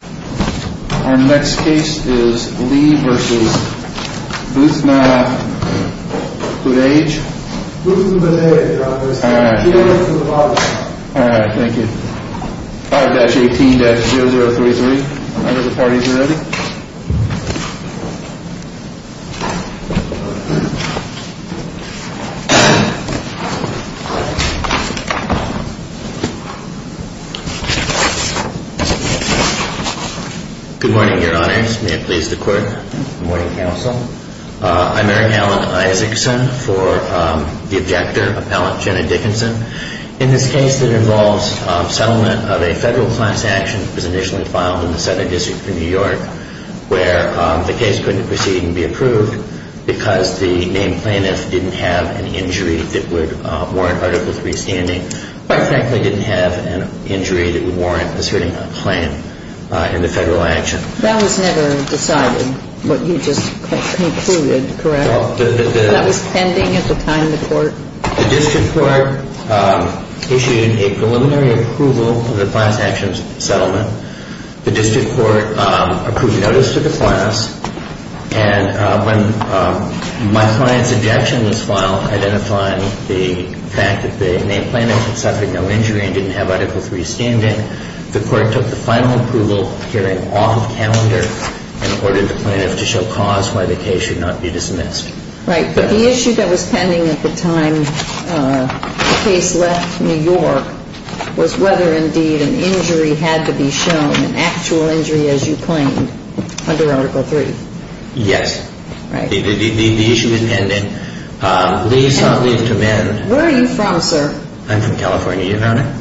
Our next case is Lee v. Buth-Na-Bodhaige. Buth-Na-Bodhaige. All right, thank you. 5-18-0033. Are the parties ready? Good morning, Your Honors. May it please the Court. Good morning, Counsel. I'm Eric Alan Isaacson for the objector, Appellant Jenna Dickinson. In this case that involves settlement of a federal class action that was initially filed in the Southern District of New York where the case couldn't proceed and be approved because the main plaintiff didn't have an injury that would warrant Article III standing, quite frankly, didn't have an injury that would warrant asserting a claim in the federal action. That was never decided, what you just concluded, correct? That was pending at the time in the Court? The district court issued a preliminary approval of the class action settlement. The district court approved notice to the class. And when my client's objection was filed identifying the fact that the main plaintiff had suffered no injury and didn't have Article III standing, the Court took the final approval hearing off of calendar and ordered the plaintiff to show cause why the case should not be dismissed. Right, but the issue that was pending at the time the case left New York was whether, indeed, an injury had to be shown, an actual injury as you claimed, under Article III. Yes. Right. The issue is pending. And where are you from, sir? I'm from California, Your Honor.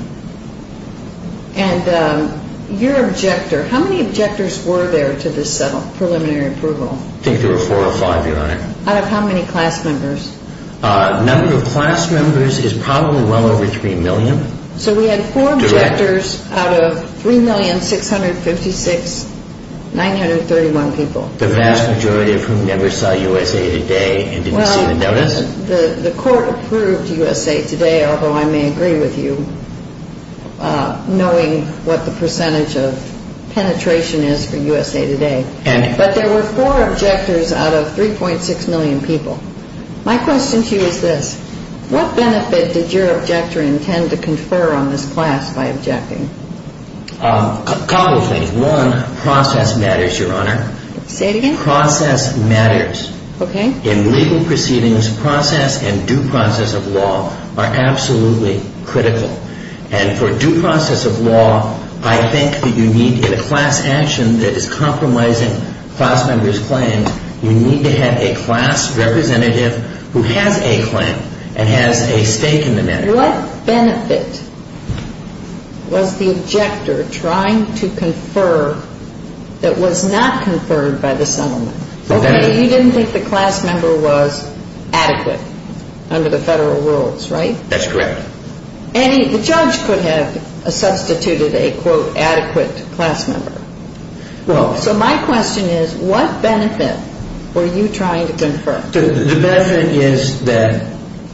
And your objector, how many objectors were there to this preliminary approval? I think there were four or five, Your Honor. Out of how many class members? The number of class members is probably well over three million. So we had four objectors out of 3,656,931 people. The vast majority of whom never saw USA Today and didn't see the notice? Well, the Court approved USA Today, although I may agree with you, knowing what the percentage of penetration is for USA Today. But there were four objectors out of 3.6 million people. My question to you is this. What benefit did your objector intend to confer on this class by objecting? A couple of things. One, process matters, Your Honor. Say it again? Process matters. Okay. In legal proceedings, process and due process of law are absolutely critical. And for due process of law, I think that you need, in a class action that is compromising class members' claims, you need to have a class representative who has a claim and has a stake in the matter. What benefit was the objector trying to confer that was not conferred by the settlement? Okay, you didn't think the class member was adequate under the federal rules, right? That's correct. And the judge could have substituted a, quote, adequate class member. So my question is, what benefit were you trying to confer? The benefit is that,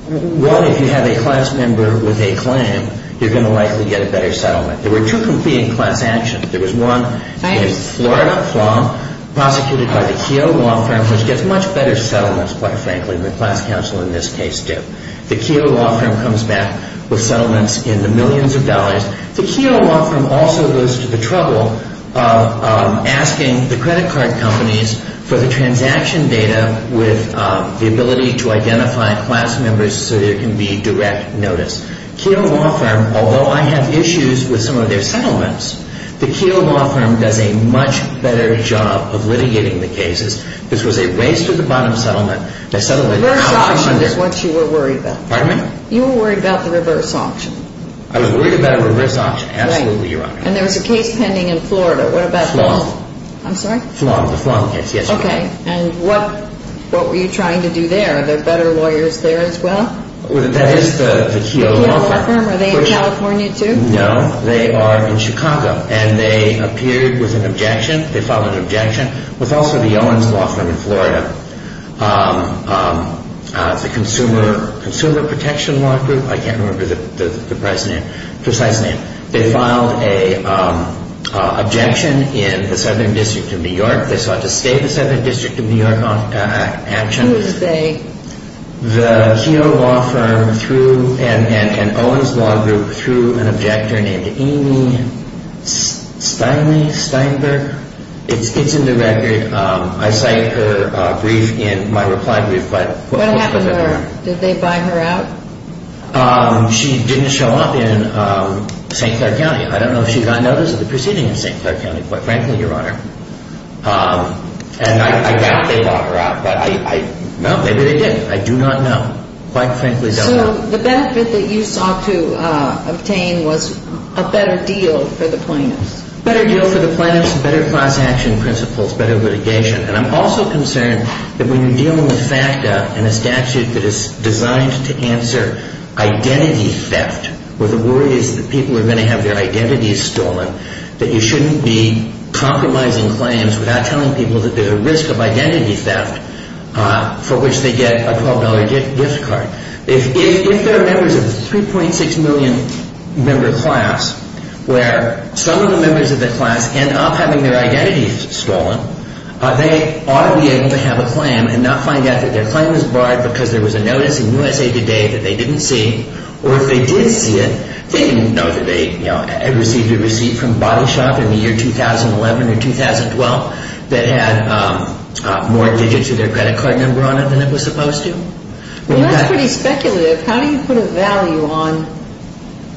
one, if you have a class member with a claim, you're going to likely get a better settlement. There were two competing class actions. There was one in Florida, Flom, prosecuted by the Keough Law Firm, which gets much better settlements, quite frankly, than the class counsel in this case did. The Keough Law Firm comes back with settlements in the millions of dollars. The Keough Law Firm also goes to the trouble of asking the credit card companies for the transaction data with the ability to identify class members so there can be direct notice. Keough Law Firm, although I have issues with some of their settlements, the Keough Law Firm does a much better job of litigating the cases. This was a race to the bottom settlement. Reverse auction is what you were worried about. Pardon me? You were worried about the reverse auction. I was worried about a reverse auction, absolutely, Your Honor. And there was a case pending in Florida. What about those? Flom. I'm sorry? Flom, the Flom case, yes, Your Honor. Okay, and what were you trying to do there? Are there better lawyers there as well? That is the Keough Law Firm. The Keough Law Firm, are they in California too? No, they are in Chicago, and they appeared with an objection. They filed an objection with also the Owens Law Firm in Florida. It's a consumer protection law group. I can't remember the precise name. They filed an objection in the Southern District of New York. They sought to stay in the Southern District of New York on action. Who is they? The Keough Law Firm and Owens Law Group through an objector named Amy Steinberg. It's in the record. I cite her brief in my reply brief. What happened to her? Did they buy her out? She didn't show up in St. Clair County. I don't know if she got notice of the proceeding in St. Clair County, quite frankly, Your Honor. And I doubt they bought her out. No, maybe they did. I do not know. Quite frankly, I don't know. So the benefit that you sought to obtain was a better deal for the plaintiffs? Better deal for the plaintiffs, better class action principles, better litigation. And I'm also concerned that when you're dealing with FACTA and a statute that is designed to answer identity theft, where the worry is that people are going to have their identities stolen, that you shouldn't be compromising claims without telling people that there's a risk of identity theft for which they get a $12 gift card. If there are members of a 3.6 million member class where some of the members of the class end up having their identities stolen, they ought to be able to have a claim and not find out that their claim was barred because there was a notice in USA Today that they didn't see. Or if they did see it, they didn't know that they had received a receipt from Body Shop in the year 2011 or 2012 that had more digits of their credit card number on it than it was supposed to. Well, that's pretty speculative. How do you put a value on,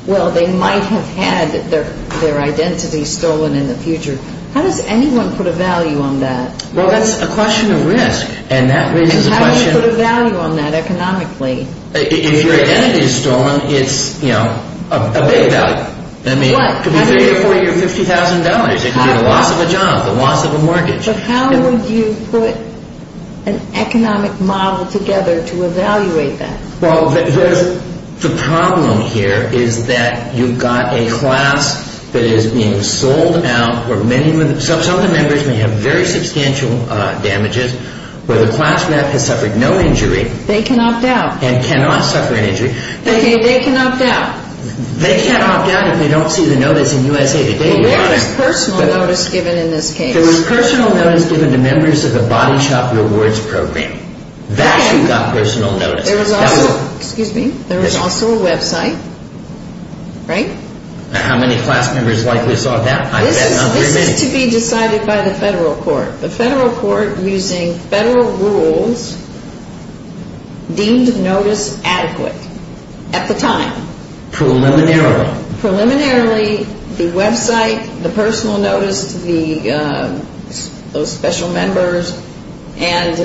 well, they might have had their identities stolen in the future. How does anyone put a value on that? Well, that's a question of risk, and that raises a question. How do you put a value on that economically? If your identity is stolen, it's, you know, a big value. What? I mean, it could be paid for your $50,000. It could be the loss of a job, the loss of a mortgage. But how would you put an economic model together to evaluate that? Well, the problem here is that you've got a class that is being sold out, where some of the members may have very substantial damages, where the class rep has suffered no injury. They can opt out. And cannot suffer an injury. They can opt out. They can opt out if they don't see the notice in USA Today. Well, where is personal notice given in this case? There was personal notice given to members of the Body Shop Rewards Program. That's who got personal notice. There was also, excuse me, there was also a website, right? How many class members likely saw that? I bet not very many. This is to be decided by the federal court. The federal court, using federal rules, deemed notice adequate at the time. Preliminarily. Preliminarily, the website, the personal notice, those special members, and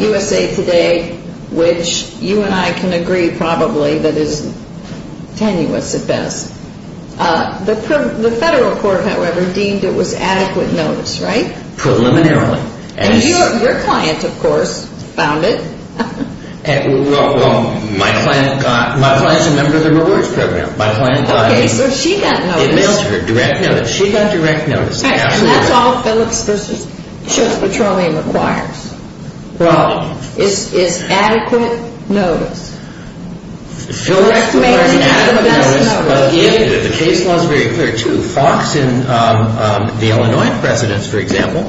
USA Today, which you and I can agree probably that is tenuous at best. The federal court, however, deemed it was adequate notice, right? Preliminarily. And your client, of course, found it. Well, my client is a member of the Rewards Program. Okay, so she got notice. It mails to her, direct notice. She got direct notice. And that's all Phillips v. Church Petroleum requires. Well, it's adequate notice. Direct notice is the best notice. The case law is very clear, too. Fox in the Illinois precedence, for example,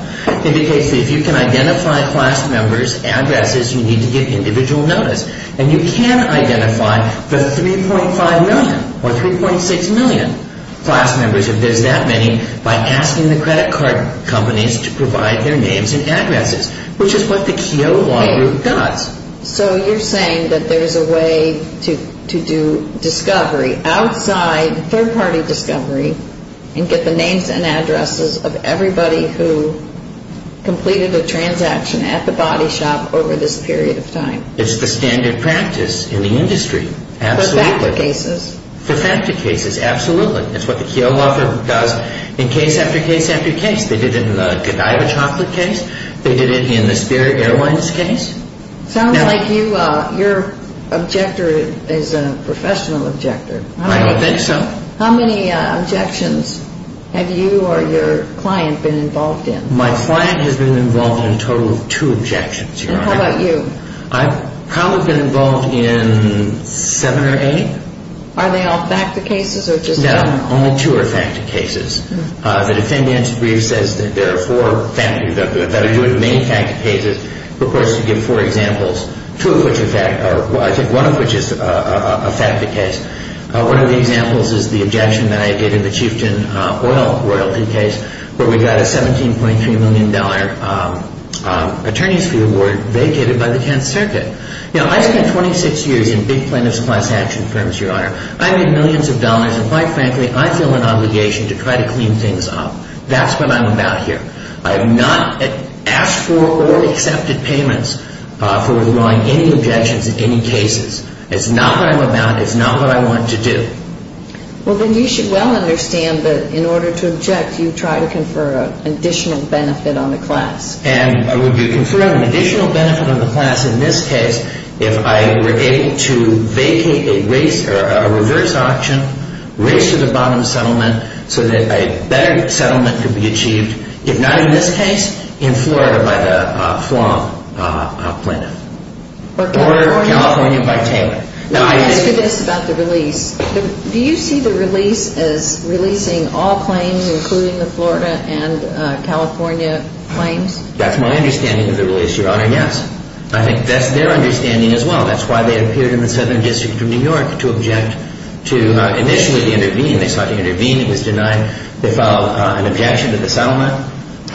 indicates that if you can identify class members' addresses, you need to give individual notice. And you can identify the 3.5 million or 3.6 million class members, if there's that many, by asking the credit card companies to provide their names and addresses, which is what the Keogh Law Group does. So you're saying that there's a way to do discovery outside third-party discovery and get the names and addresses of everybody who completed a transaction at the body shop over this period of time? It's the standard practice in the industry, absolutely. For factored cases? For factored cases, absolutely. It's what the Keogh Law Group does in case after case after case. They did it in the Godiva chocolate case. They did it in the Spirit Airlines case. Sounds like your objector is a professional objector. I don't think so. How many objections have you or your client been involved in? My client has been involved in a total of two objections, Your Honor. And how about you? I've probably been involved in seven or eight. Are they all factored cases or just one? No, only two are factored cases. The defendant's brief says that there are four that are doing many factored cases. Of course, you give four examples, two of which are factored, or I think one of which is a factored case. One of the examples is the objection that I gave in the Chieftain Oil royalty case where we got a $17.3 million attorneys fee award vacated by the 10th Circuit. Now, I spent 26 years in big plaintiff's class action firms, Your Honor. I made millions of dollars, and quite frankly, I feel an obligation to try to clean things up. That's what I'm about here. I have not asked for or accepted payments for withdrawing any objections in any cases. It's not what I'm about. It's not what I want to do. Well, then you should well understand that in order to object, you try to confer an additional benefit on the class. And would you confer an additional benefit on the class in this case if I were able to vacate a race or a reverse auction, race to the bottom settlement so that a better settlement could be achieved, if not in this case, in Florida by the Flom plaintiff? Or California by Taylor. Let me ask you this about the release. Do you see the release as releasing all claims, including the Florida and California claims? That's my understanding of the release, Your Honor, yes. I think that's their understanding as well. That's why they appeared in the Southern District of New York to object to initially the intervene. They sought to intervene. It was denied. They filed an objection to the settlement.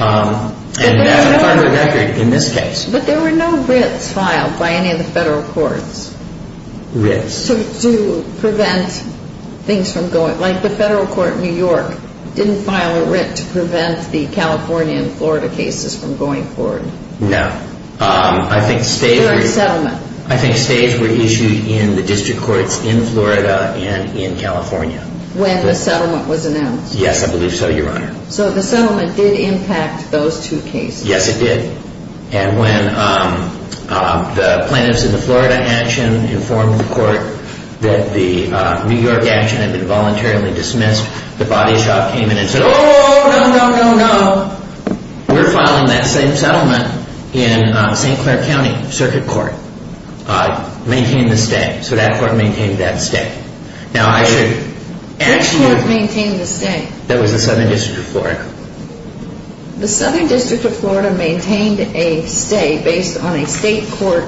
And that's on the record in this case. But there were no writs filed by any of the federal courts. Writs. To prevent things from going. Like the federal court in New York didn't file a writ to prevent the California and Florida cases from going forward. No. I think states were issued in the district courts in Florida and in California. When the settlement was announced. Yes, I believe so, Your Honor. So the settlement did impact those two cases. Yes, it did. And when the plaintiffs in the Florida action informed the court that the New York action had been voluntarily dismissed, the body shop came in and said, oh, no, no, no, no. We're filing that same settlement in St. Clair County Circuit Court. Maintain the stay. So that court maintained that stay. Which court maintained the stay? That was the Southern District of Florida. The Southern District of Florida maintained a stay based on a state court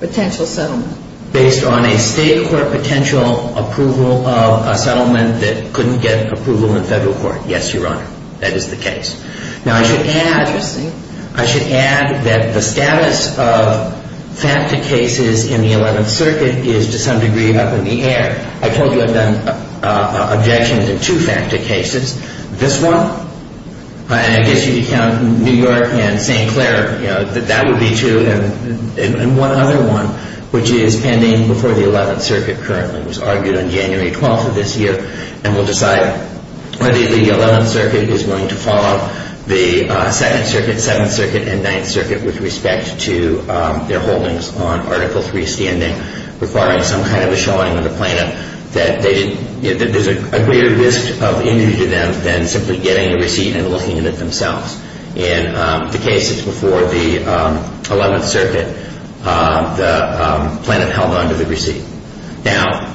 potential settlement. Based on a state court potential approval of a settlement that couldn't get approval in federal court. Yes, Your Honor. That is the case. Interesting. I should add that the status of FACTA cases in the 11th Circuit is to some degree up in the air. I told you I've done objections to two FACTA cases. This one, and I guess you'd count New York and St. Clair, you know, that that would be true. And one other one, which is pending before the 11th Circuit currently, was argued on January 12th of this year. And we'll decide whether the 11th Circuit is willing to follow the 2nd Circuit, 7th Circuit, and 9th Circuit with respect to their holdings on Article 3 standing, requiring some kind of a showing of the plaintiff that there's a greater risk of injury to them than simply getting a receipt and looking at it themselves. In the cases before the 11th Circuit, the plaintiff held on to the receipt. Now,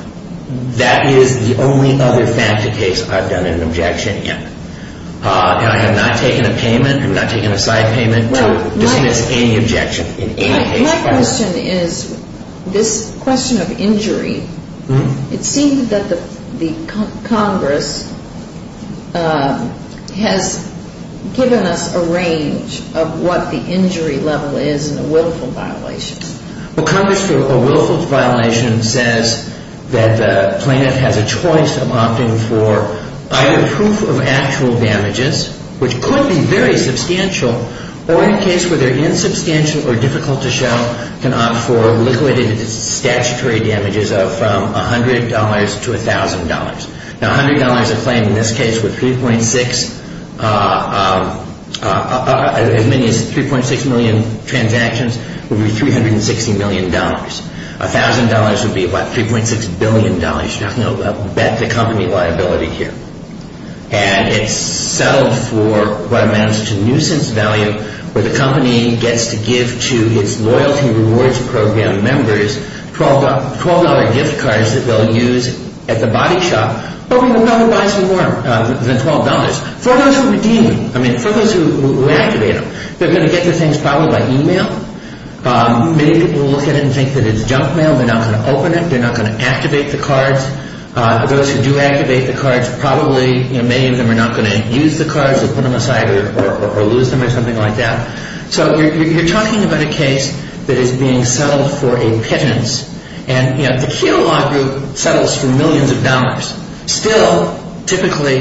that is the only other FACTA case I've done an objection in. And I have not taken a payment. I've not taken a side payment to dismiss any objection in any case. My question is, this question of injury, it seemed that the Congress has given us a range of what the injury level is in a willful violation. Well, Congress, for a willful violation, says that the plaintiff has a choice of opting for either proof of actual damages, which could be very substantial, or in a case where they're insubstantial or difficult to show, can opt for liquidated statutory damages of from $100 to $1,000. Now, $100 a claim in this case would, as many as 3.6 million transactions, would be $360 million. $1,000 would be, what, $3.6 billion. You're not going to bet the company liability here. And it's settled for what amounts to nuisance value where the company gets to give to its loyalty rewards program members $12 gift cards that they'll use at the body shop. But we don't know who buys more than $12. For those who redeem, I mean, for those who reactivate them, they're going to get their things probably by e-mail. Many people look at it and think that it's junk mail. They're not going to open it. They're not going to activate the cards. Those who do activate the cards, probably, you know, many of them are not going to use the cards or put them aside or lose them or something like that. So you're talking about a case that is being settled for a pittance. And, you know, the Keough Law Group settles for millions of dollars. Still, typically,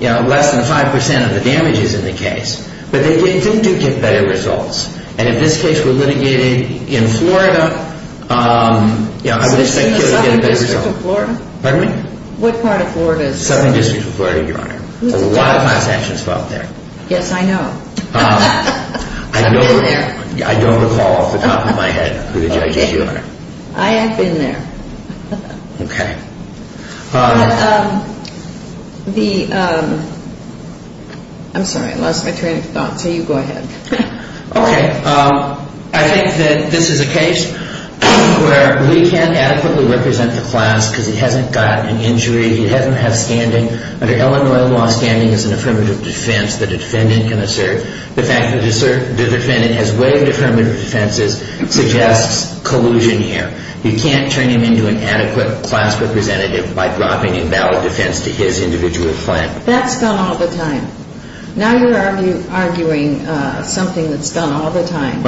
you know, less than 5% of the damage is in the case. But they do get better results. And if this case were litigated in Florida, you know, I would expect it would get a better result. Pardon me? What part of Florida? Southern District of Florida, Your Honor. A lot of transactions filed there. Yes, I know. I don't recall off the top of my head who the judges are. I have been there. Okay. I'm sorry, I lost my train of thought. So you go ahead. Okay. I think that this is a case where we can adequately represent the class because he hasn't got an injury. He hasn't had standing. Under Illinois law, standing is an affirmative defense that a defendant can assert. The fact that the defendant has waived affirmative defense suggests collusion here. You can't turn him into an adequate class representative by dropping invalid defense to his individual claim. That's done all the time. Now you're arguing something that's done all the time.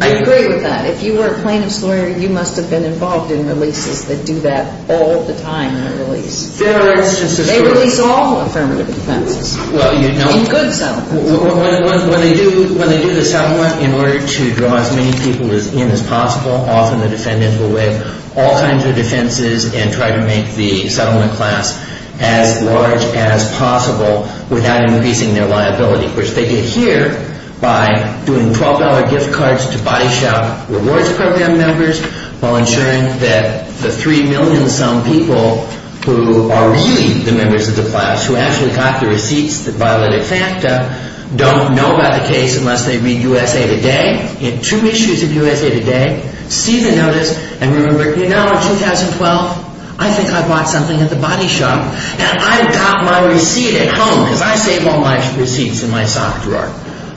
I agree with that. If you were a plaintiff's lawyer, you must have been involved in releases that do that all the time in a release. They release all affirmative defenses in good settlements. When they do the settlement, in order to draw as many people in as possible, often the defendant will waive all kinds of defenses and try to make the settlement class as large as possible without increasing their liability, which they did here by doing $12 gift cards to Body Shop Rewards Program members while ensuring that the 3 million-some people who are really the members of the class who actually got the receipts that violated FACTA don't know about the case unless they read USA Today. In two issues of USA Today, see the notice and remember, you know, in 2012, I think I bought something at the Body Shop and I got my receipt at home because I save all my receipts in my sock drawer.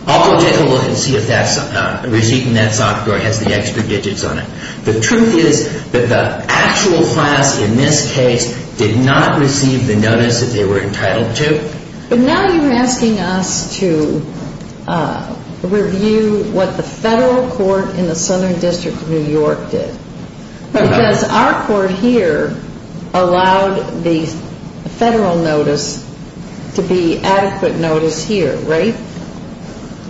I'll go take a look and see if that receipt in that sock drawer has the extra digits on it. The truth is that the actual class in this case did not receive the notice that they were entitled to. But now you're asking us to review what the federal court in the Southern District of New York did. Because our court here allowed the federal notice to be adequate notice here, right?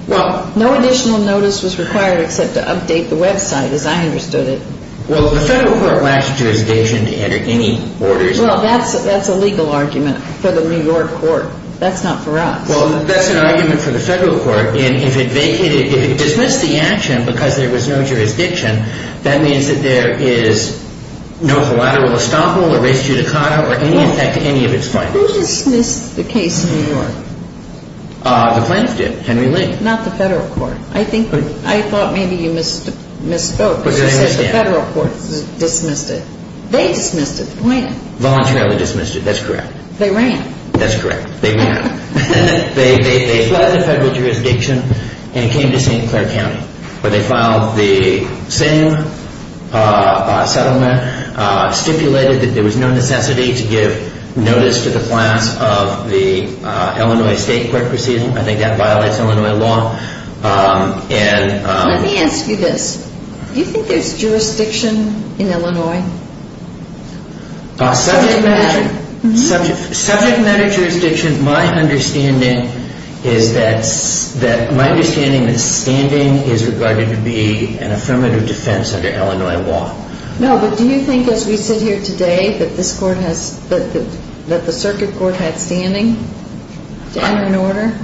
Well, no additional notice was required except to update the website as I understood it. Well, the federal court lacks jurisdiction to enter any orders. Well, that's a legal argument for the New York court. That's not for us. Well, that's an argument for the federal court. And if it vacated, if it dismissed the action because there was no jurisdiction, that means that there is no collateral estoppel or res judicata or any effect to any of its findings. Who dismissed the case in New York? The plaintiff did, Henry Lee. Not the federal court. I thought maybe you misspoke because you said the federal court dismissed it. They dismissed it, the plaintiff. Voluntarily dismissed it. That's correct. They ran. That's correct. They ran. They fled the federal jurisdiction and came to St. Clair County where they filed the same settlement, stipulated that there was no necessity to give notice to the clients of the Illinois state court proceeding. I think that violates Illinois law. Let me ask you this. Do you think there's jurisdiction in Illinois? Subject matter. Subject matter jurisdiction, my understanding is that, my understanding is that standing is regarded to be an affirmative defense under Illinois law. No, but do you think as we sit here today that this court has, that the circuit court had standing to enter an order?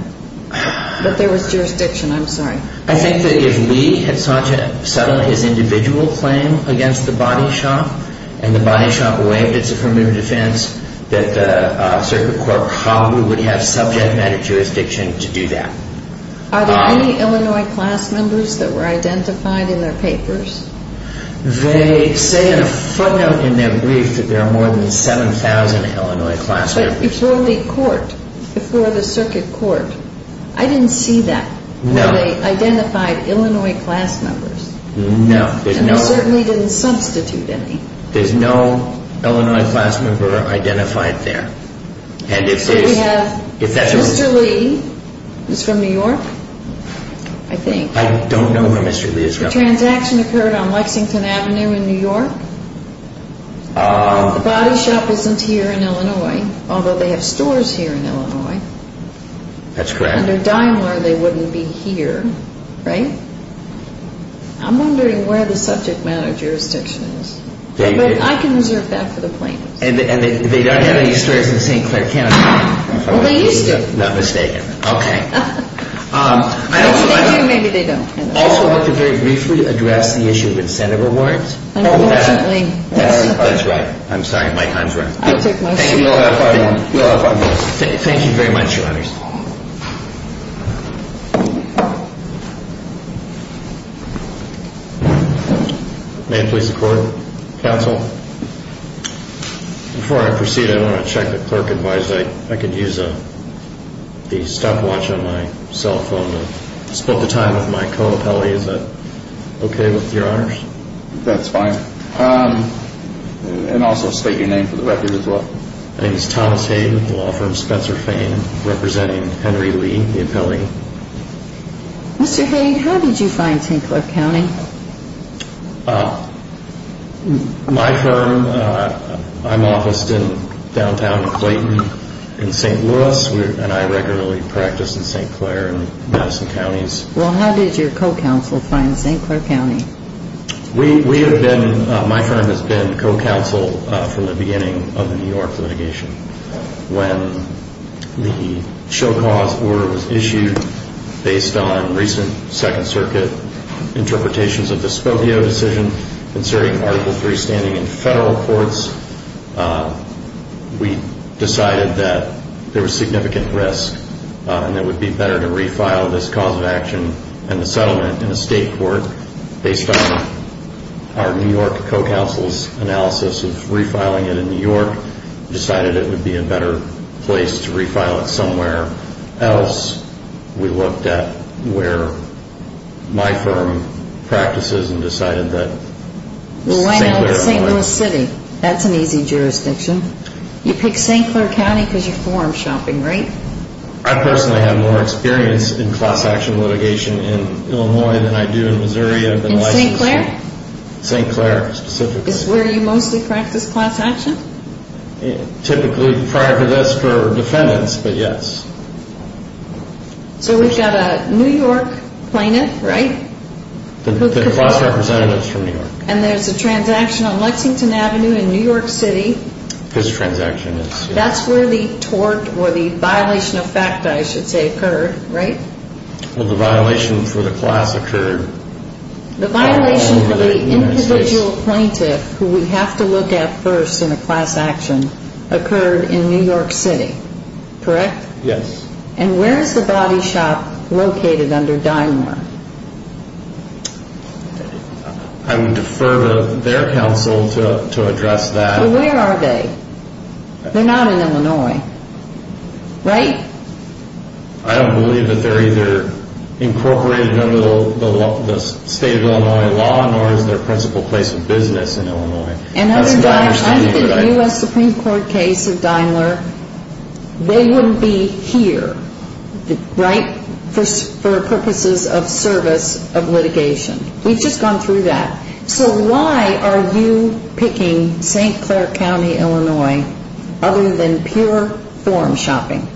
But there was jurisdiction. I'm sorry. I think that if Lee had sought to settle his individual claim against the body shop and the body shop waived its affirmative defense, that the circuit court probably would have subject matter jurisdiction to do that. Are there any Illinois class members that were identified in their papers? They say in a footnote in their brief that there are more than 7,000 Illinois class members. But before the court, before the circuit court, I didn't see that. No. Were they identified Illinois class members? No. And they certainly didn't substitute any. There's no Illinois class member identified there. And if there is, if that's a reason. Mr. Lee is from New York, I think. I don't know where Mr. Lee is from. The transaction occurred on Lexington Avenue in New York. The body shop isn't here in Illinois, although they have stores here in Illinois. That's correct. Under Daimler, they wouldn't be here, right? I'm wondering where the subject matter jurisdiction is. But I can reserve that for the plaintiffs. And they don't have any stores in St. Clair County? Well, they used to. Not mistaken. Okay. If they do, maybe they don't. I also want to very briefly address the issue of incentive awards. That's right. I'm sorry, my time's running. I'll take my seat. You'll have five minutes. Thank you very much, Your Honors. May I please record, Counsel? Before I proceed, I want to check that Clerk advised I could use the stopwatch on my cell phone and split the time with my co-appellee. Is that okay with Your Honors? That's fine. And also state your name for the record as well. My name is Thomas Haig with the law firm Spencer Fane, representing Henry Lee, the appellee. Mr. Haig, how did you find St. Clair County? My firm, I'm officed in downtown Clayton in St. Louis, and I regularly practice in St. Clair and Madison Counties. Well, how did your co-counsel find St. Clair County? We have been, my firm has been co-counsel from the beginning of the New York litigation. When the show cause order was issued based on recent Second Circuit interpretations of the Spokio decision concerning Article III standing in federal courts, we decided that there was significant risk and it would be better to refile this cause of action and the settlement in a state court. Based on our New York co-counsel's analysis of refiling it in New York, we decided it would be a better place to refile it somewhere else. We looked at where my firm practices and decided that St. Clair County. Well, why not St. Louis City? That's an easy jurisdiction. You pick St. Clair County because you're forum shopping, right? I personally have more experience in class action litigation in Illinois than I do in Missouri. In St. Clair? St. Clair, specifically. Is where you mostly practice class action? Typically, prior to this, for defendants, but yes. So we've got a New York plaintiff, right? The class representative is from New York. And there's a transaction on Lexington Avenue in New York City. This transaction is. That's where the tort or the violation of fact, I should say, occurred, right? Well, the violation for the class occurred. The violation for the individual plaintiff who we have to look at first in a class action occurred in New York City, correct? Yes. And where is the body shop located under Dynmore? I would defer to their counsel to address that. Well, where are they? They're not in Illinois, right? I don't believe that they're either incorporated under the state of Illinois law, nor is their principal place of business in Illinois. And other times, I think in the U.S. Supreme Court case of Dynmore, they wouldn't be here, right, for purposes of service of litigation. We've just gone through that. So why are you picking St. Clair County, Illinois, other than pure form shopping?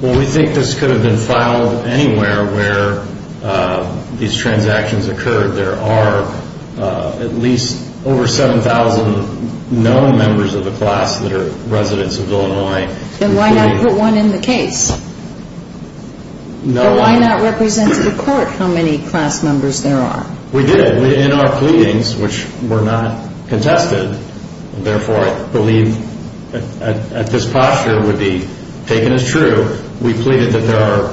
Well, we think this could have been filed anywhere where these transactions occurred. There are at least over 7,000 known members of the class that are residents of Illinois. Then why not put one in the case? Or why not represent to the court how many class members there are? We did. In our pleadings, which were not contested, and therefore I believe at this posture would be taken as true, we pleaded that there are,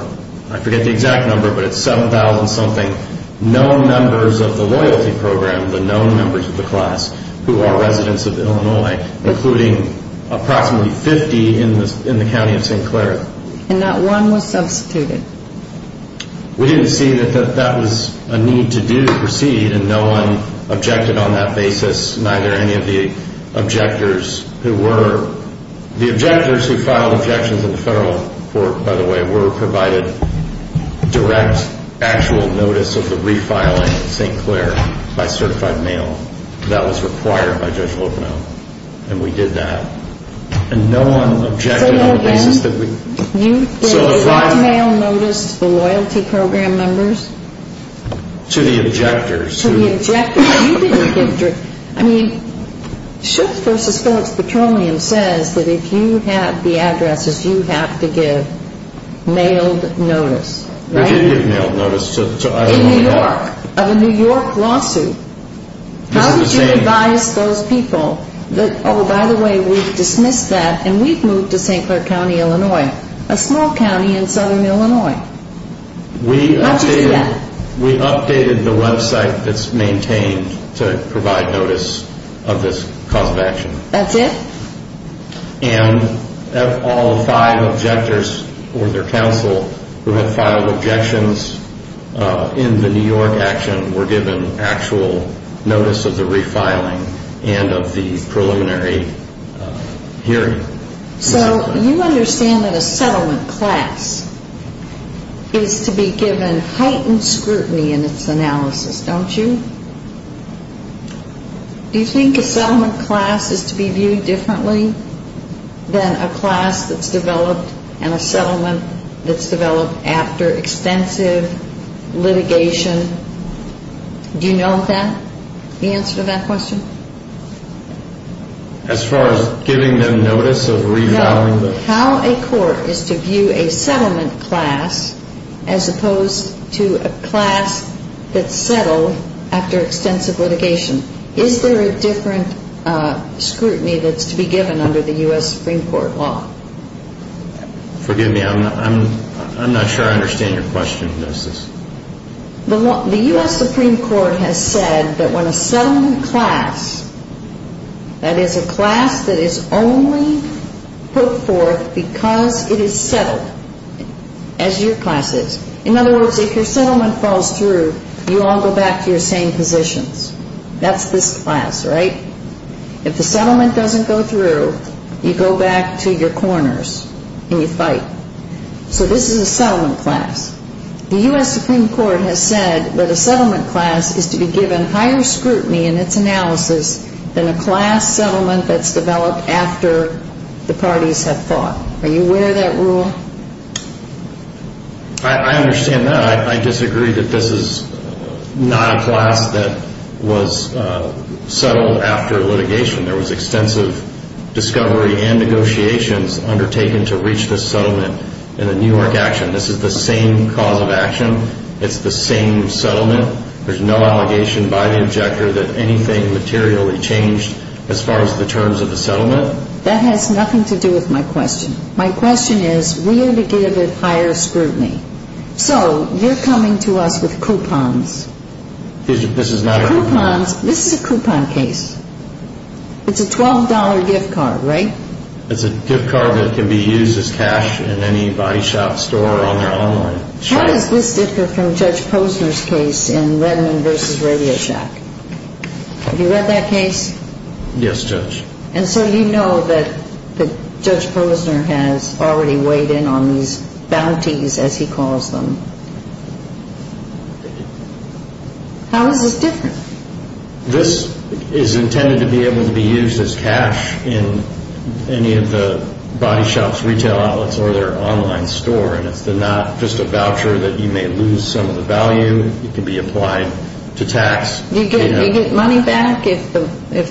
I forget the exact number, but it's 7,000-something known members of the loyalty program, the known members of the class who are residents of Illinois, including approximately 50 in the county of St. Clair. And not one was substituted. We didn't see that that was a need to do to proceed, and no one objected on that basis, neither any of the objectors who were... The objectors who filed objections in the federal court, by the way, were provided direct, actual notice of the refiling of St. Clair by certified mail. That was required by Judge Logano, and we did that. And no one objected on the basis that we... Say that again. So as I... Did the certified mail notice the loyalty program members? To the objectors. To the objectors. You didn't give... We did give mailed notice. In New York, of a New York lawsuit. How did you advise those people that, oh, by the way, we've dismissed that, and we've moved to St. Clair County, Illinois, a small county in southern Illinois? Not just yet. We updated the website that's maintained to provide notice of this cause of action. That's it? And all five objectors or their counsel who had filed objections in the New York action were given actual notice of the refiling and of the preliminary hearing. So you understand that a settlement class is to be given heightened scrutiny in its analysis, don't you? Do you think a settlement class is to be viewed differently than a class that's developed and a settlement that's developed after extensive litigation? Do you note that, the answer to that question? As far as giving them notice of refiling the... Is there a different scrutiny that's to be given under the U.S. Supreme Court law? Forgive me, I'm not sure I understand your question, Justice. The U.S. Supreme Court has said that when a settlement class, that is a class that is only put forth because it is settled, as your class is. In other words, if your settlement falls through, you all go back to your same positions. That's this class, right? If the settlement doesn't go through, you go back to your corners and you fight. So this is a settlement class. The U.S. Supreme Court has said that a settlement class is to be given higher scrutiny in its analysis than a class settlement that's developed after the parties have fought. Are you aware of that rule? I understand that. I disagree that this is not a class that was settled after litigation. There was extensive discovery and negotiations undertaken to reach this settlement in the New York action. This is the same cause of action. It's the same settlement. There's no allegation by the objector that anything materially changed as far as the terms of the settlement. That has nothing to do with my question. My question is, we are to give it higher scrutiny. So you're coming to us with coupons. This is not a coupon. Coupons. This is a coupon case. It's a $12 gift card, right? It's a gift card that can be used as cash in any body shop, store, or on their online shop. How does this differ from Judge Posner's case in Redmond v. Radio Shack? Have you read that case? Yes, Judge. And so you know that Judge Posner has already weighed in on these bounties, as he calls them. How is this different? This is intended to be able to be used as cash in any of the body shops, retail outlets, or their online store. And it's not just a voucher that you may lose some of the value. It can be applied to tax. Do you get money back if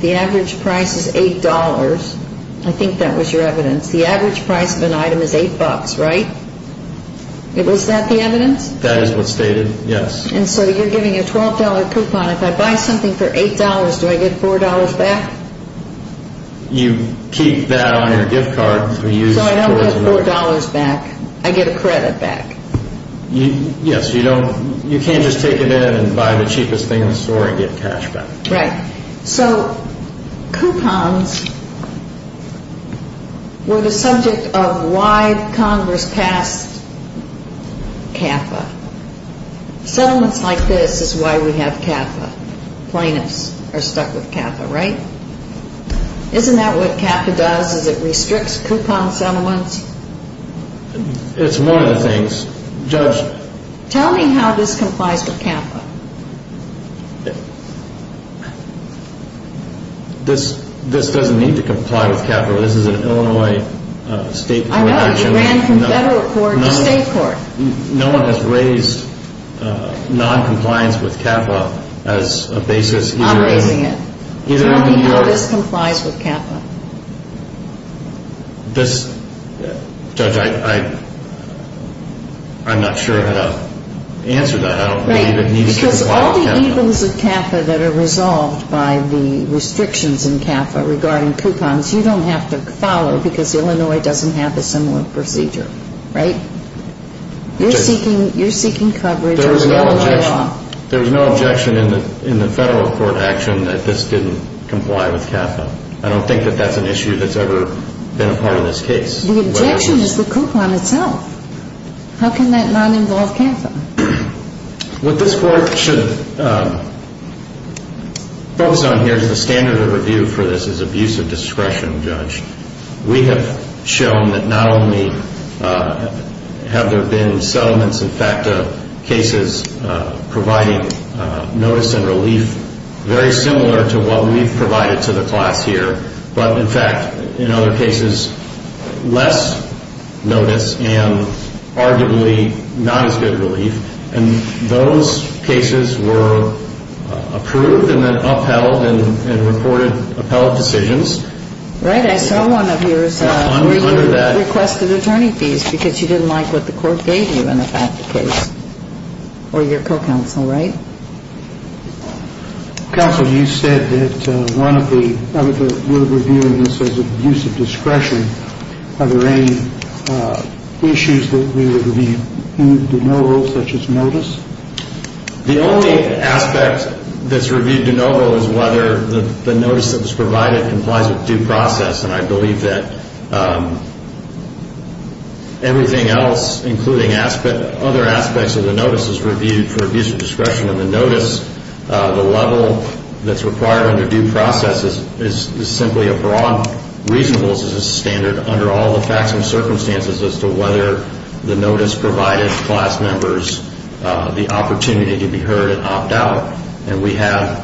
the average price is $8? I think that was your evidence. The average price of an item is $8, right? Was that the evidence? That is what's stated, yes. And so you're giving a $12 coupon. If I buy something for $8, do I get $4 back? You keep that on your gift card. So I don't get $4 back. I get a credit back. Yes, you can't just take it in and buy the cheapest thing in the store and get cash back. Right. So coupons were the subject of why Congress passed CAFA. Settlements like this is why we have CAFA. Plaintiffs are stuck with CAFA, right? Isn't that what CAFA does, is it restricts coupon settlements? It's one of the things, Judge. Tell me how this complies with CAFA. This doesn't need to comply with CAFA. This is an Illinois state jurisdiction. I know. It ran from federal court to state court. No one has raised noncompliance with CAFA as a basis. I'm raising it. Tell me how this complies with CAFA. This, Judge, I'm not sure how to answer that. I don't believe it needs to comply with CAFA. Because all the evils of CAFA that are resolved by the restrictions in CAFA regarding coupons, you don't have to follow because Illinois doesn't have a similar procedure, right? You're seeking coverage under Illinois law. There was no objection in the federal court action that this didn't comply with CAFA. I don't think that that's an issue that's ever been a part of this case. The objection is the coupon itself. How can that not involve CAFA? What this court should focus on here is the standard of review for this is abuse of discretion, Judge. We have shown that not only have there been settlements, in fact, cases providing notice and relief very similar to what we've provided to the class here, but, in fact, in other cases, less notice and arguably not as good relief. And those cases were approved and then upheld and reported upheld decisions. Right. I saw one of yours where you requested attorney fees because you didn't like what the court gave you in the FAFTA case. Or your co-counsel, right? Counsel, you said that one of the – we're reviewing this as abuse of discretion. Are there any issues that we would review in de novo such as notice? The only aspect that's reviewed de novo is whether the notice that was provided complies with due process. And I believe that everything else, including other aspects of the notice, is reviewed for abuse of discretion. And the notice, the level that's required under due process, is simply a broad reasonable standard under all the facts and circumstances as to whether the notice provided class members the opportunity to be heard and opt out. And we have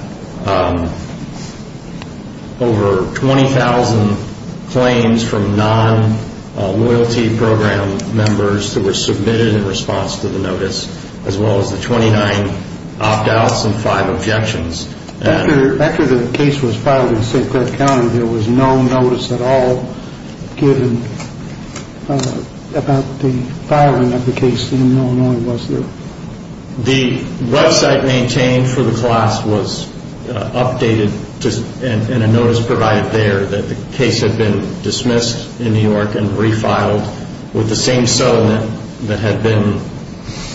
over 20,000 claims from non-loyalty program members that were submitted in response to the notice, as well as the 29 opt outs and five objections. After the case was filed in St. Clair County, there was no notice at all given about the filing of the case in Illinois, was there? The website maintained for the class was updated and a notice provided there that the case had been dismissed in New York and refiled with the same settlement that had been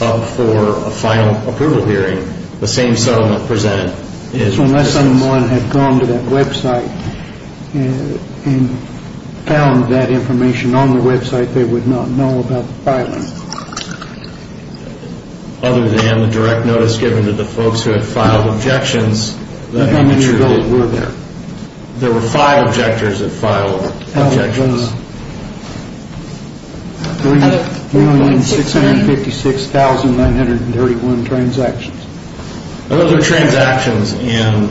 up for a final approval hearing. The same settlement presented. So unless someone had gone to that website and found that information on the website, they would not know about the filing? Other than the direct notice given to the folks who had filed objections. How many of those were there? There were five objectors that filed objections. That was 3,656,931 transactions. Those are transactions and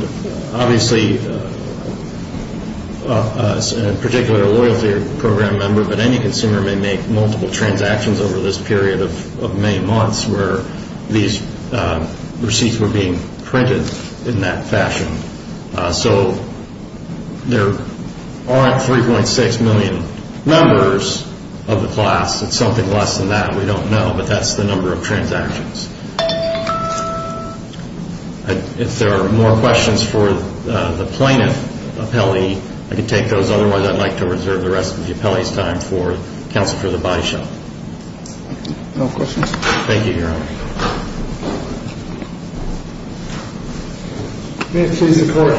obviously, particularly a loyalty program member, but any consumer may make multiple transactions over this period of many months where these receipts were being printed in that fashion. So there aren't 3.6 million members of the class. It's something less than that. We don't know, but that's the number of transactions. If there are more questions for the plaintiff, I can take those. Otherwise, I'd like to reserve the rest of the appellee's time for counsel for the body shop. No questions. Thank you, Your Honor. May it please the court.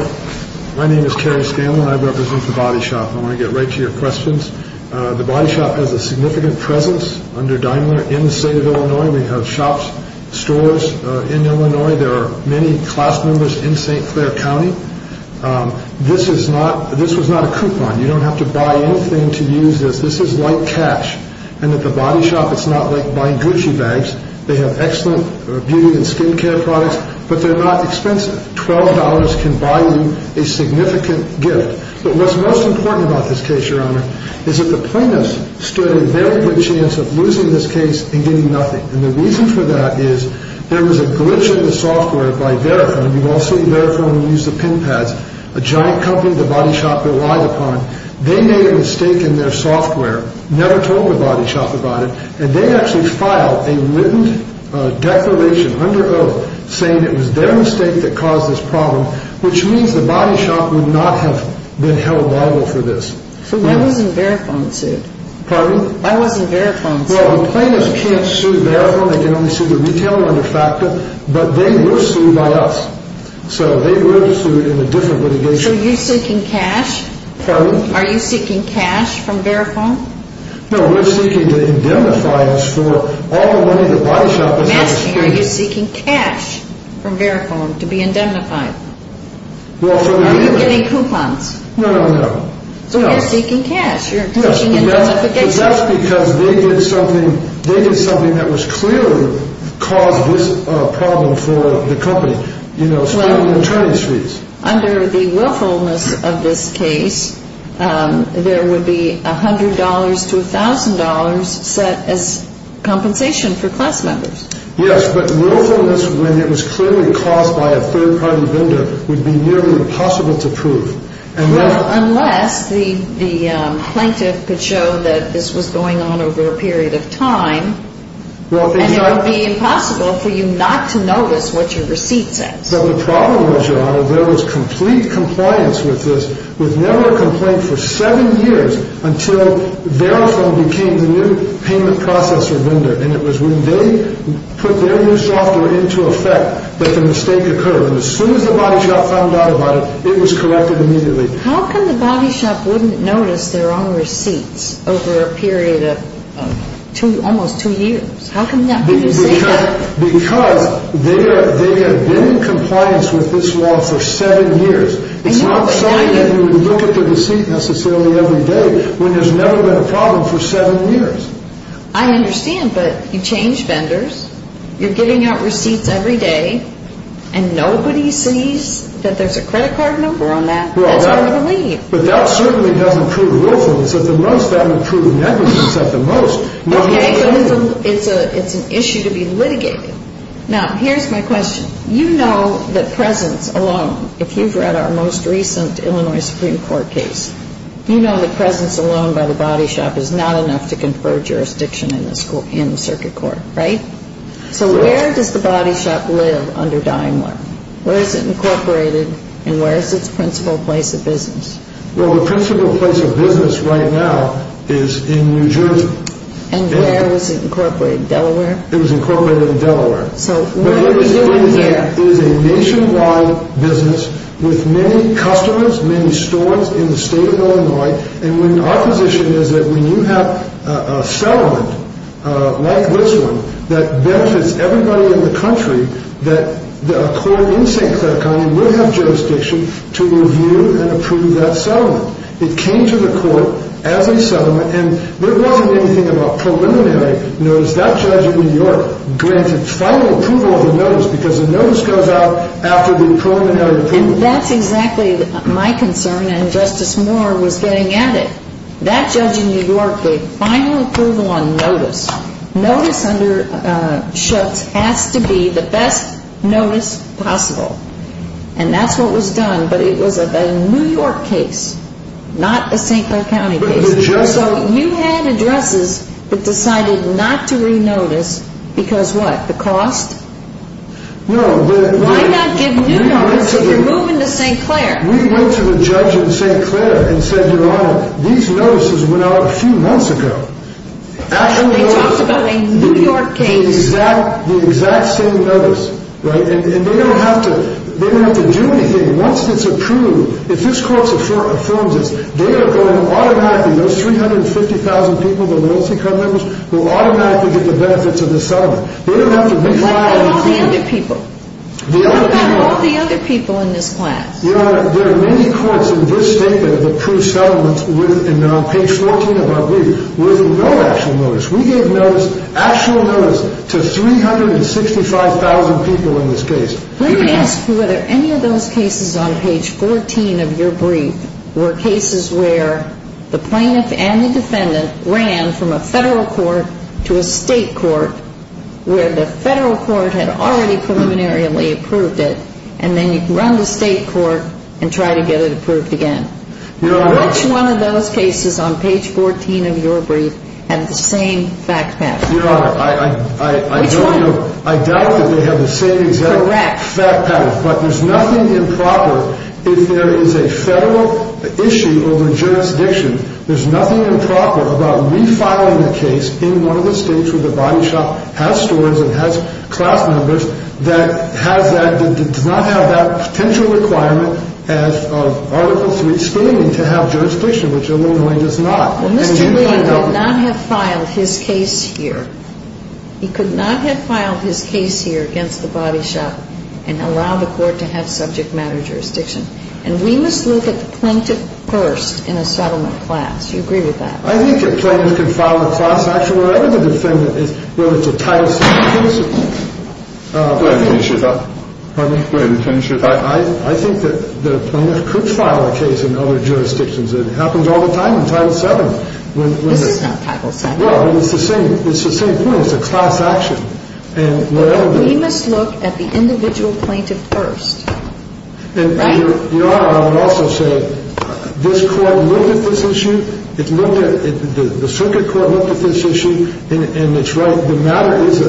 My name is Terry Scanlon. I represent the body shop. I want to get right to your questions. The body shop has a significant presence under Daimler in the state of Illinois. We have shops, stores in Illinois. There are many class members in St. Clair County. This is not this was not a coupon. You don't have to buy anything to use this. This is like cash. And at the body shop, it's not like buying Gucci bags. They have excellent beauty and skin care products, but they're not expensive. $12 can buy you a significant gift. But what's most important about this case, Your Honor, is that the plaintiffs stood a very good chance of losing this case and getting nothing. And the reason for that is there was a glitch in the software by Verifone. You've all seen Verifone use the pin pads, a giant company the body shop relied upon. They made a mistake in their software, never told the body shop about it, and they actually filed a written declaration under oath saying it was their mistake that caused this problem, which means the body shop would not have been held liable for this. So why wasn't Verifone sued? Pardon? Why wasn't Verifone sued? Well, the plaintiffs can't sue Verifone. They can only sue the retailer under FACTA. But they were sued by us. So they were sued in a different litigation. So you're seeking cash? Pardon? Are you seeking cash from Verifone? No, we're seeking to indemnify us for all the money the body shop is asking. I'm asking, are you seeking cash from Verifone to be indemnified? Well, from the retailer. Are you getting coupons? No, no, no. So you're seeking cash. You're seeking indemnification. Yes, but that's because they did something that was clearly caused this problem for the company, you know, stealing the attorney's fees. Under the willfulness of this case, there would be $100 to $1,000 set as compensation for class members. Yes, but willfulness when it was clearly caused by a third-party vendor would be nearly impossible to prove. Well, unless the plaintiff could show that this was going on over a period of time, and it would be impossible for you not to notice what your receipt says. But the problem was, Your Honor, there was complete compliance with this. There was never a complaint for seven years until Verifone became the new payment processor vendor, and it was when they put their new software into effect that the mistake occurred. And as soon as the body shop found out about it, it was corrected immediately. How come the body shop wouldn't notice their own receipts over a period of almost two years? How come that couldn't be saved? Because they have been in compliance with this law for seven years. It's not something that you would look at the receipt necessarily every day when there's never been a problem for seven years. I understand, but you change vendors, you're giving out receipts every day, and nobody sees that there's a credit card number on that. That's where they're going to leave. But that certainly doesn't prove willfulness at the most. That would prove negligence at the most. It's an issue to be litigated. Now, here's my question. You know that presence alone, if you've read our most recent Illinois Supreme Court case, you know the presence alone by the body shop is not enough to confer jurisdiction in the circuit court, right? So where does the body shop live under Daimler? Where is it incorporated, and where is its principal place of business? Well, the principal place of business right now is in New Jersey. And where is it incorporated, Delaware? It was incorporated in Delaware. So what are we doing here? It is a nationwide business with many customers, many stores in the state of Illinois, and our position is that when you have a settlement like this one that benefits everybody in the country, that a court in St. Clair County would have jurisdiction to review and approve that settlement. It came to the court as a settlement, and there wasn't anything about preliminary notice. That judge in New York granted final approval of the notice because the notice goes out after the preliminary approval. And that's exactly my concern, and Justice Moore was getting at it. That judge in New York gave final approval on notice. Notice under Schutz has to be the best notice possible, and that's what was done. But it was a New York case, not a St. Clair County case. So you had addresses that decided not to re-notice because what, the cost? No. Why not give new notices? You're moving to St. Clair. We went to the judge in St. Clair and said, Your Honor, these notices went out a few months ago. And they talked about a New York case. The exact same notice, right? And they don't have to do anything. Once it's approved, if this court affirms this, they are going to automatically, those 350,000 people, the LLC card members, will automatically get the benefits of the settlement. They don't have to re-apply anything. What about all the other people? The other people. What about all the other people in this class? Your Honor, there are many courts in this state that have approved settlements, and on page 14 of our brief, with no actual notice. We gave actual notice to 365,000 people in this case. Let me ask you whether any of those cases on page 14 of your brief were cases where the plaintiff and the defendant ran from a federal court to a state court, where the federal court had already preliminarily approved it, and then you'd run to state court and try to get it approved again. Which one of those cases on page 14 of your brief had the same fact pattern? Your Honor, I doubt that they have the same exact fact pattern, but there's nothing improper if there is a federal issue over jurisdiction. There's nothing improper about refiling a case in one of the states where the body shop has stores and has class members that does not have that potential requirement as of Article 3 screening to have jurisdiction, which Illinois does not. Well, Mr. Lee could not have filed his case here. He could not have filed his case here against the body shop and allowed the court to have subject matter jurisdiction. And we must look at the plaintiff first in a settlement class. Do you agree with that? I think the plaintiff can file a class action wherever the defendant is, whether it's a Title 7 case. Go ahead and finish your thought. Pardon me? Go ahead and finish your thought. I think that the plaintiff could file a case in other jurisdictions. It happens all the time in Title 7. This is not Title 7. Well, it's the same point. It's a class action. We must look at the individual plaintiff first. Your Honor, I would also say this Court looked at this issue. The circuit court looked at this issue, and it's right. The matter is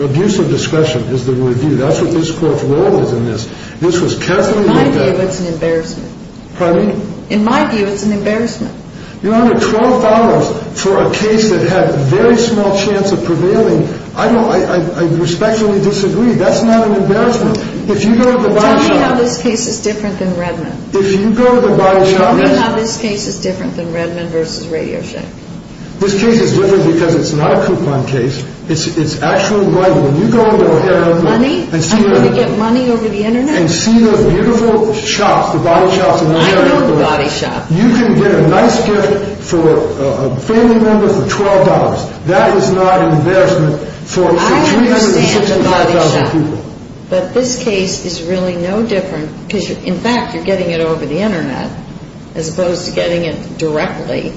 abuse of discretion is the review. That's what this Court's role is in this. This was carefully looked at. In my view, it's an embarrassment. Pardon me? In my view, it's an embarrassment. Your Honor, $12 for a case that had a very small chance of prevailing, I respectfully disagree. That's not an embarrassment. If you go to the body shop. Tell me how this case is different than Redmond. If you go to the body shop. Tell me how this case is different than Redmond v. Radio Shack. This case is different because it's not a coupon case. It's actually right. When you go over there. Money? I'm going to get money over the Internet. And see those beautiful shops, the body shops. I know the body shops. You can get a nice gift for a family member for $12. That is not an embarrassment for 365,000 people. I understand the body shop. But this case is really no different, because, in fact, you're getting it over the Internet, as opposed to getting it directly.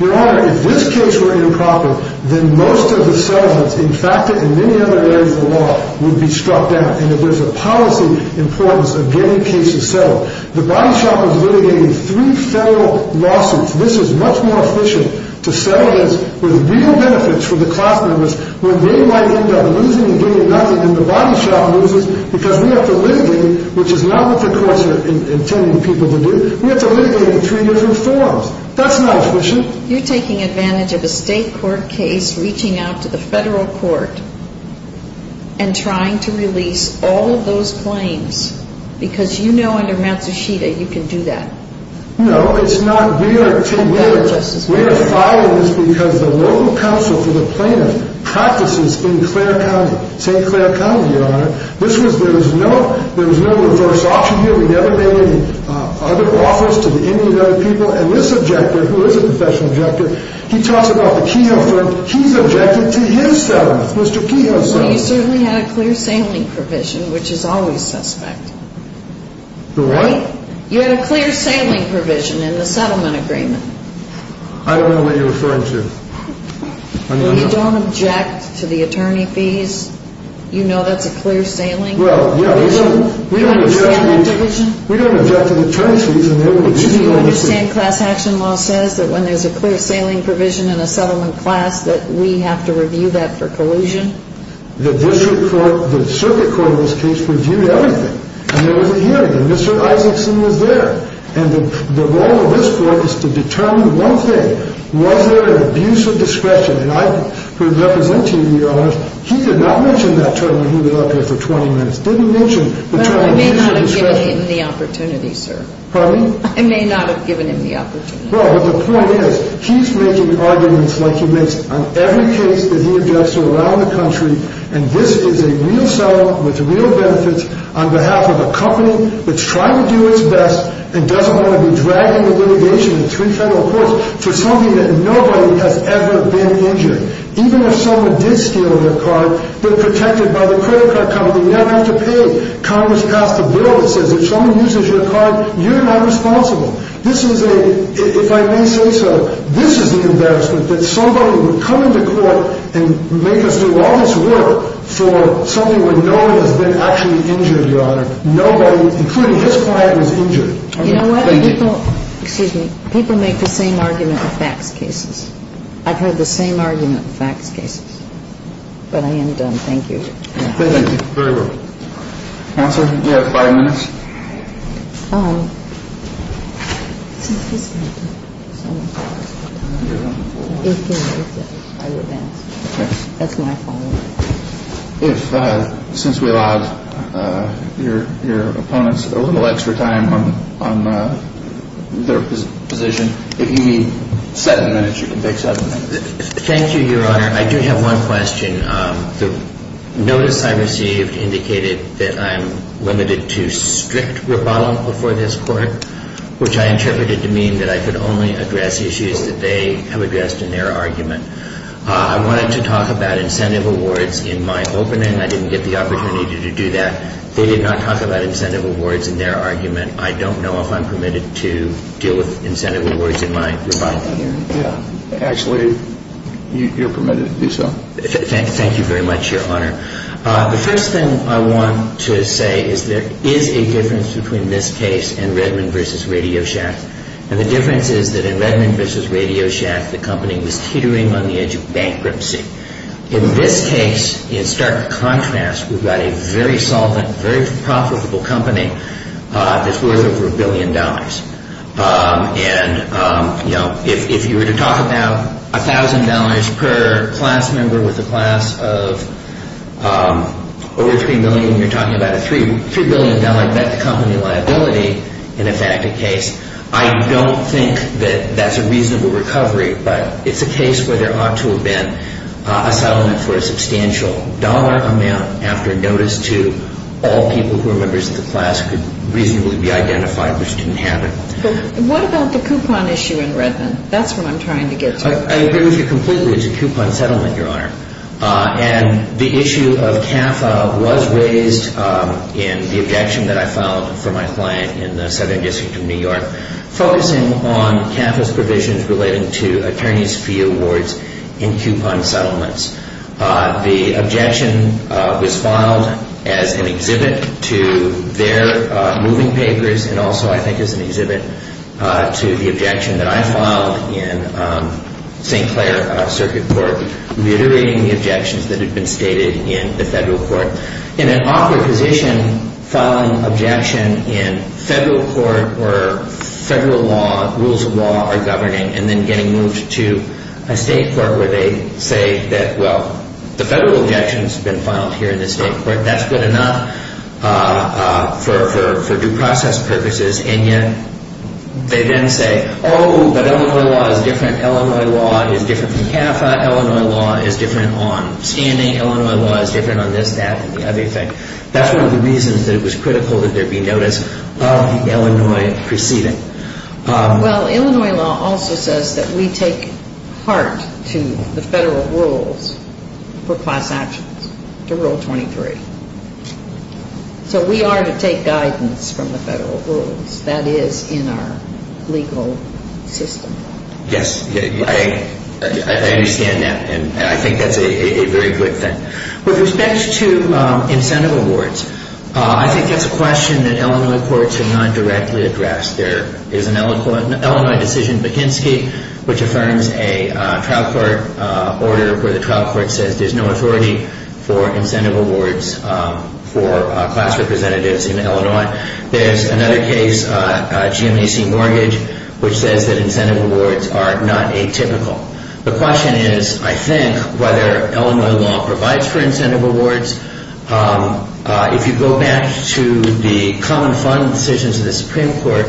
Your Honor, if this case were improper, then most of the settlements, in fact, in many other areas of the law, would be struck down. And there's a policy importance of getting cases settled. The body shop is litigating three federal lawsuits. This is much more efficient to settle this with real benefits for the class members when they might end up losing and getting nothing, and the body shop loses because we have to litigate it, which is not what the courts are intending people to do. We have to litigate it in three different forms. That's not efficient. You're taking advantage of a state court case, reaching out to the federal court, and trying to release all of those claims, because you know under Matsushita you can do that. No, it's not. We are following this because the local council for the plaintiffs practices in St. Clair County, Your Honor. There was no reverse option here. We never made any other offers to any of the other people. And this objector, who is a professional objector, he talks about the Kehoe firm. He's objected to his settlement, Mr. Kehoe's settlement. Well, you certainly had a clear sailing provision, which is always suspect. The what? You had a clear sailing provision in the settlement agreement. I don't know what you're referring to. Well, you don't object to the attorney fees. You know that's a clear sailing provision? Well, yeah, we don't object to the attorney fees. Do you understand class action law says that when there's a clear sailing provision in a settlement class that we have to review that for collusion? The district court, the circuit court in this case, reviewed everything. And there was a hearing, and Mr. Isakson was there. And the role of this court is to determine one thing. Was there an abuse of discretion? And I, who is representing you, Your Honor, he did not mention that term when he was up here for 20 minutes. Didn't mention the term abuse of discretion. Well, I may not have given him the opportunity, sir. Pardon me? I may not have given him the opportunity. Well, but the point is he's making arguments like he makes on every case that he objects to around the country. And this is a real settlement with real benefits on behalf of a company that's trying to do its best and doesn't want to be dragging the litigation between federal courts for something that nobody has ever been injured. Even if someone did steal your card, they're protected by the credit card company. You never have to pay. Congress passed a bill that says if someone uses your card, you're not responsible. This is a, if I may say so, this is the embarrassment that somebody would come into court and make us do all this work for something where no one has been actually injured, Your Honor. Nobody, including his client, was injured. You know what? People make the same argument in facts cases. I've heard the same argument in facts cases. But I am done. Thank you. Thank you. Very well. Counselor, you have five minutes. If, since we allowed your opponents a little extra time on their position, if you need seven minutes, you can take seven minutes. Thank you, Your Honor. I do have one question. The notice I received indicated that I'm limited to speaking. before this court, which I interpreted to mean that I could only address issues that they have addressed in their argument. I wanted to talk about incentive awards in my opening. I didn't get the opportunity to do that. They did not talk about incentive awards in their argument. I don't know if I'm permitted to deal with incentive awards in my rebuttal hearing. Actually, you're permitted to do so. Thank you very much, Your Honor. The first thing I want to say is there is a difference between this case and Redmond v. Radio Shack. And the difference is that in Redmond v. Radio Shack, the company was teetering on the edge of bankruptcy. In this case, in stark contrast, we've got a very solvent, very profitable company that's worth over a billion dollars. And, you know, if you were to talk about $1,000 per class member with a class of over $3 million, and you're talking about a $3 billion debt-to-company liability in a facted case, I don't think that that's a reasonable recovery. But it's a case where there ought to have been a settlement for a substantial dollar amount after notice to all people who were members of the class could reasonably be identified, which didn't happen. What about the coupon issue in Redmond? That's what I'm trying to get to. I agree with you completely. It's a coupon settlement, Your Honor. And the issue of CAFA was raised in the objection that I filed for my client in the Southern District of New York, focusing on CAFA's provisions relating to attorney's fee awards in coupon settlements. The objection was filed as an exhibit to their moving papers and also I think as an exhibit to the objection that I filed in St. Clair Circuit Court, reiterating the objections that had been stated in the federal court. In an awkward position, filing an objection in federal court where federal law, rules of law are governing, and then getting moved to a state court where they say that, well, the federal objection's been filed here in the state court. That's good enough for due process purposes, and yet they then say, oh, but Illinois law is different. Illinois law is different from CAFA. Illinois law is different on standing. Illinois law is different on this, that, and the other thing. That's one of the reasons that it was critical that there be notice of the Illinois proceeding. Well, Illinois law also says that we take heart to the federal rules for class actions, to Rule 23. So we are to take guidance from the federal rules. That is in our legal system. Yes, I understand that, and I think that's a very good thing. With respect to incentive awards, I think that's a question that Illinois courts have not directly addressed. There is an Illinois decision, McKinsey, which affirms a trial court order where the trial court says that there's no authority for incentive awards for class representatives in Illinois. There's another case, GMAC Mortgage, which says that incentive awards are not atypical. The question is, I think, whether Illinois law provides for incentive awards. If you go back to the common fund decisions of the Supreme Court,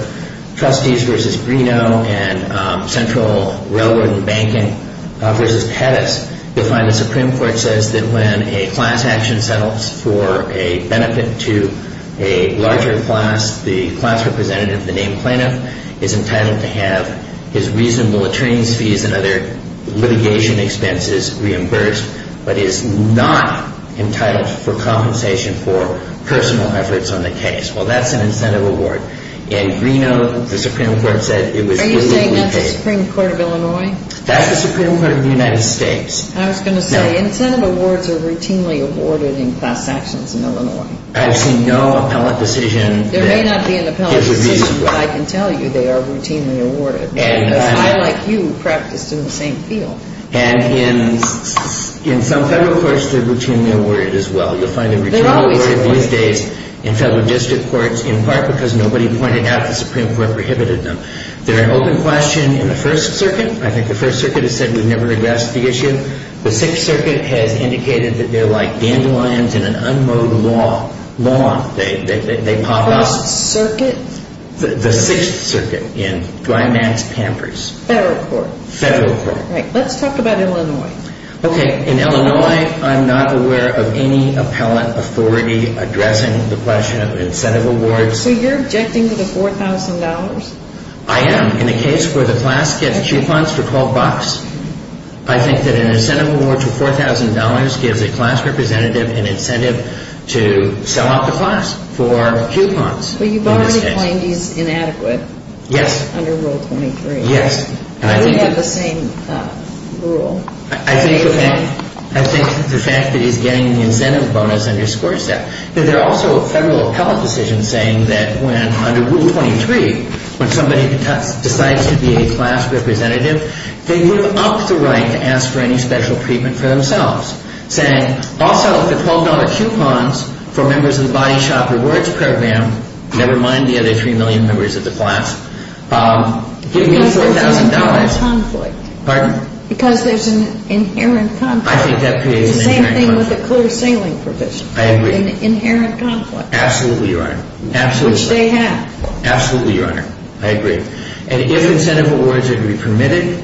trustees versus Greeno and central railroad and banking versus Pettis, you'll find the Supreme Court says that when a class action settles for a benefit to a larger class, the class representative, the named plaintiff, is entitled to have his reasonable attorney's fees and other litigation expenses reimbursed, but is not entitled for compensation for personal efforts on the case. Well, that's an incentive award. In Greeno, the Supreme Court said it was legally paid. Are you saying that's the Supreme Court of Illinois? That's the Supreme Court of the United States. I was going to say, incentive awards are routinely awarded in class actions in Illinois. I've seen no appellate decision. There may not be an appellate decision, but I can tell you they are routinely awarded, because I, like you, practiced in the same field. And in some federal courts, they're routinely awarded as well. You'll find they're routinely awarded these days in federal district courts, in part because nobody pointed out the Supreme Court prohibited them. They're an open question in the First Circuit. I think the First Circuit has said we've never addressed the issue. The Sixth Circuit has indicated that they're like dandelions in an unmowed law. Law, they pop up. First Circuit? The Sixth Circuit in Dwight Max Pampers. Federal court. Federal court. All right, let's talk about Illinois. Okay, in Illinois, I'm not aware of any appellate authority addressing the question of incentive awards. So you're objecting to the $4,000? I am. In a case where the class gets coupons for $12, I think that an incentive award to $4,000 gives a class representative an incentive to sell out the class for coupons in this case. But you've already claimed he's inadequate. Yes. Under Rule 23. Yes. And we have the same rule. I think the fact that he's getting the incentive bonus underscores that. There are also federal appellate decisions saying that when, under Rule 23, when somebody decides to be a class representative, they live up to the right to ask for any special treatment for themselves, saying also the $12 coupons for members of the Body Shop Rewards Program, never mind the other 3 million members of the class, give me $4,000. Because there's an inherent conflict. Pardon? Because there's an inherent conflict. I think that creates an inherent conflict. The same thing with the clear sailing provision. I agree. An inherent conflict. Absolutely, Your Honor. Absolutely. Which they have. Absolutely, Your Honor. I agree. And if incentive awards are to be permitted,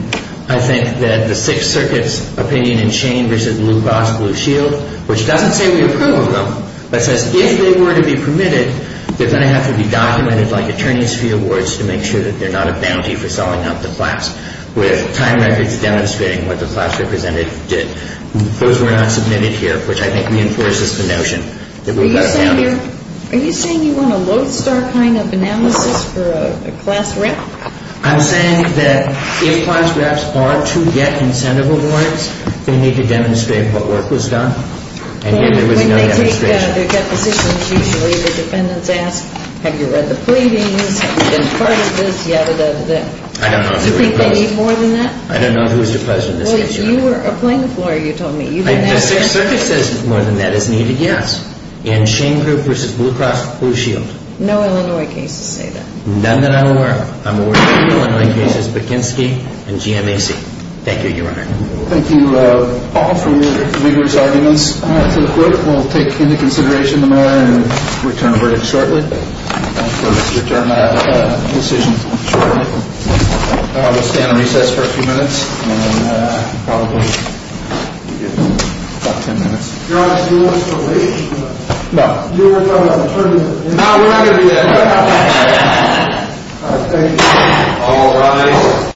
I think that the Sixth Circuit's opinion in Shane v. Blue Cross Blue Shield, which doesn't say we approve of them, but says if they were to be permitted, they're going to have to be documented like attorney's fee awards to make sure that they're not a bounty for selling out the class, with time records demonstrating what the class representative did. Those were not submitted here, which I think reinforces the notion that we've got a bounty. Are you saying you want a lodestar kind of analysis for a class rep? I'm saying that if class reps are to get incentive awards, they need to demonstrate what work was done. And yet there was no demonstration. When they take their depositions, usually the defendants ask, have you read the pleadings, have you been a part of this, yadda, yadda, yadda. I don't know if they were deposed. Do you think they need more than that? I don't know who was deposed in this case, Your Honor. You were a plaintiff lawyer, you told me. The Sixth Circuit says more than that is needed, yes. And Shane Group v. Blue Cross Blue Shield. No Illinois cases say that. None that I'm aware of. I'm aware of two Illinois cases, Bukinski and GMAC. Thank you, Your Honor. Thank you all for your vigorous arguments to the court. We'll take into consideration the matter and return a verdict shortly. We'll return a decision shortly. We'll stand on recess for a few minutes. And then I can probably give you about ten minutes. Your Honor, do you want us to wait? No. You were talking about returning a decision. No, we're not going to do that. All right, thank you. All rise.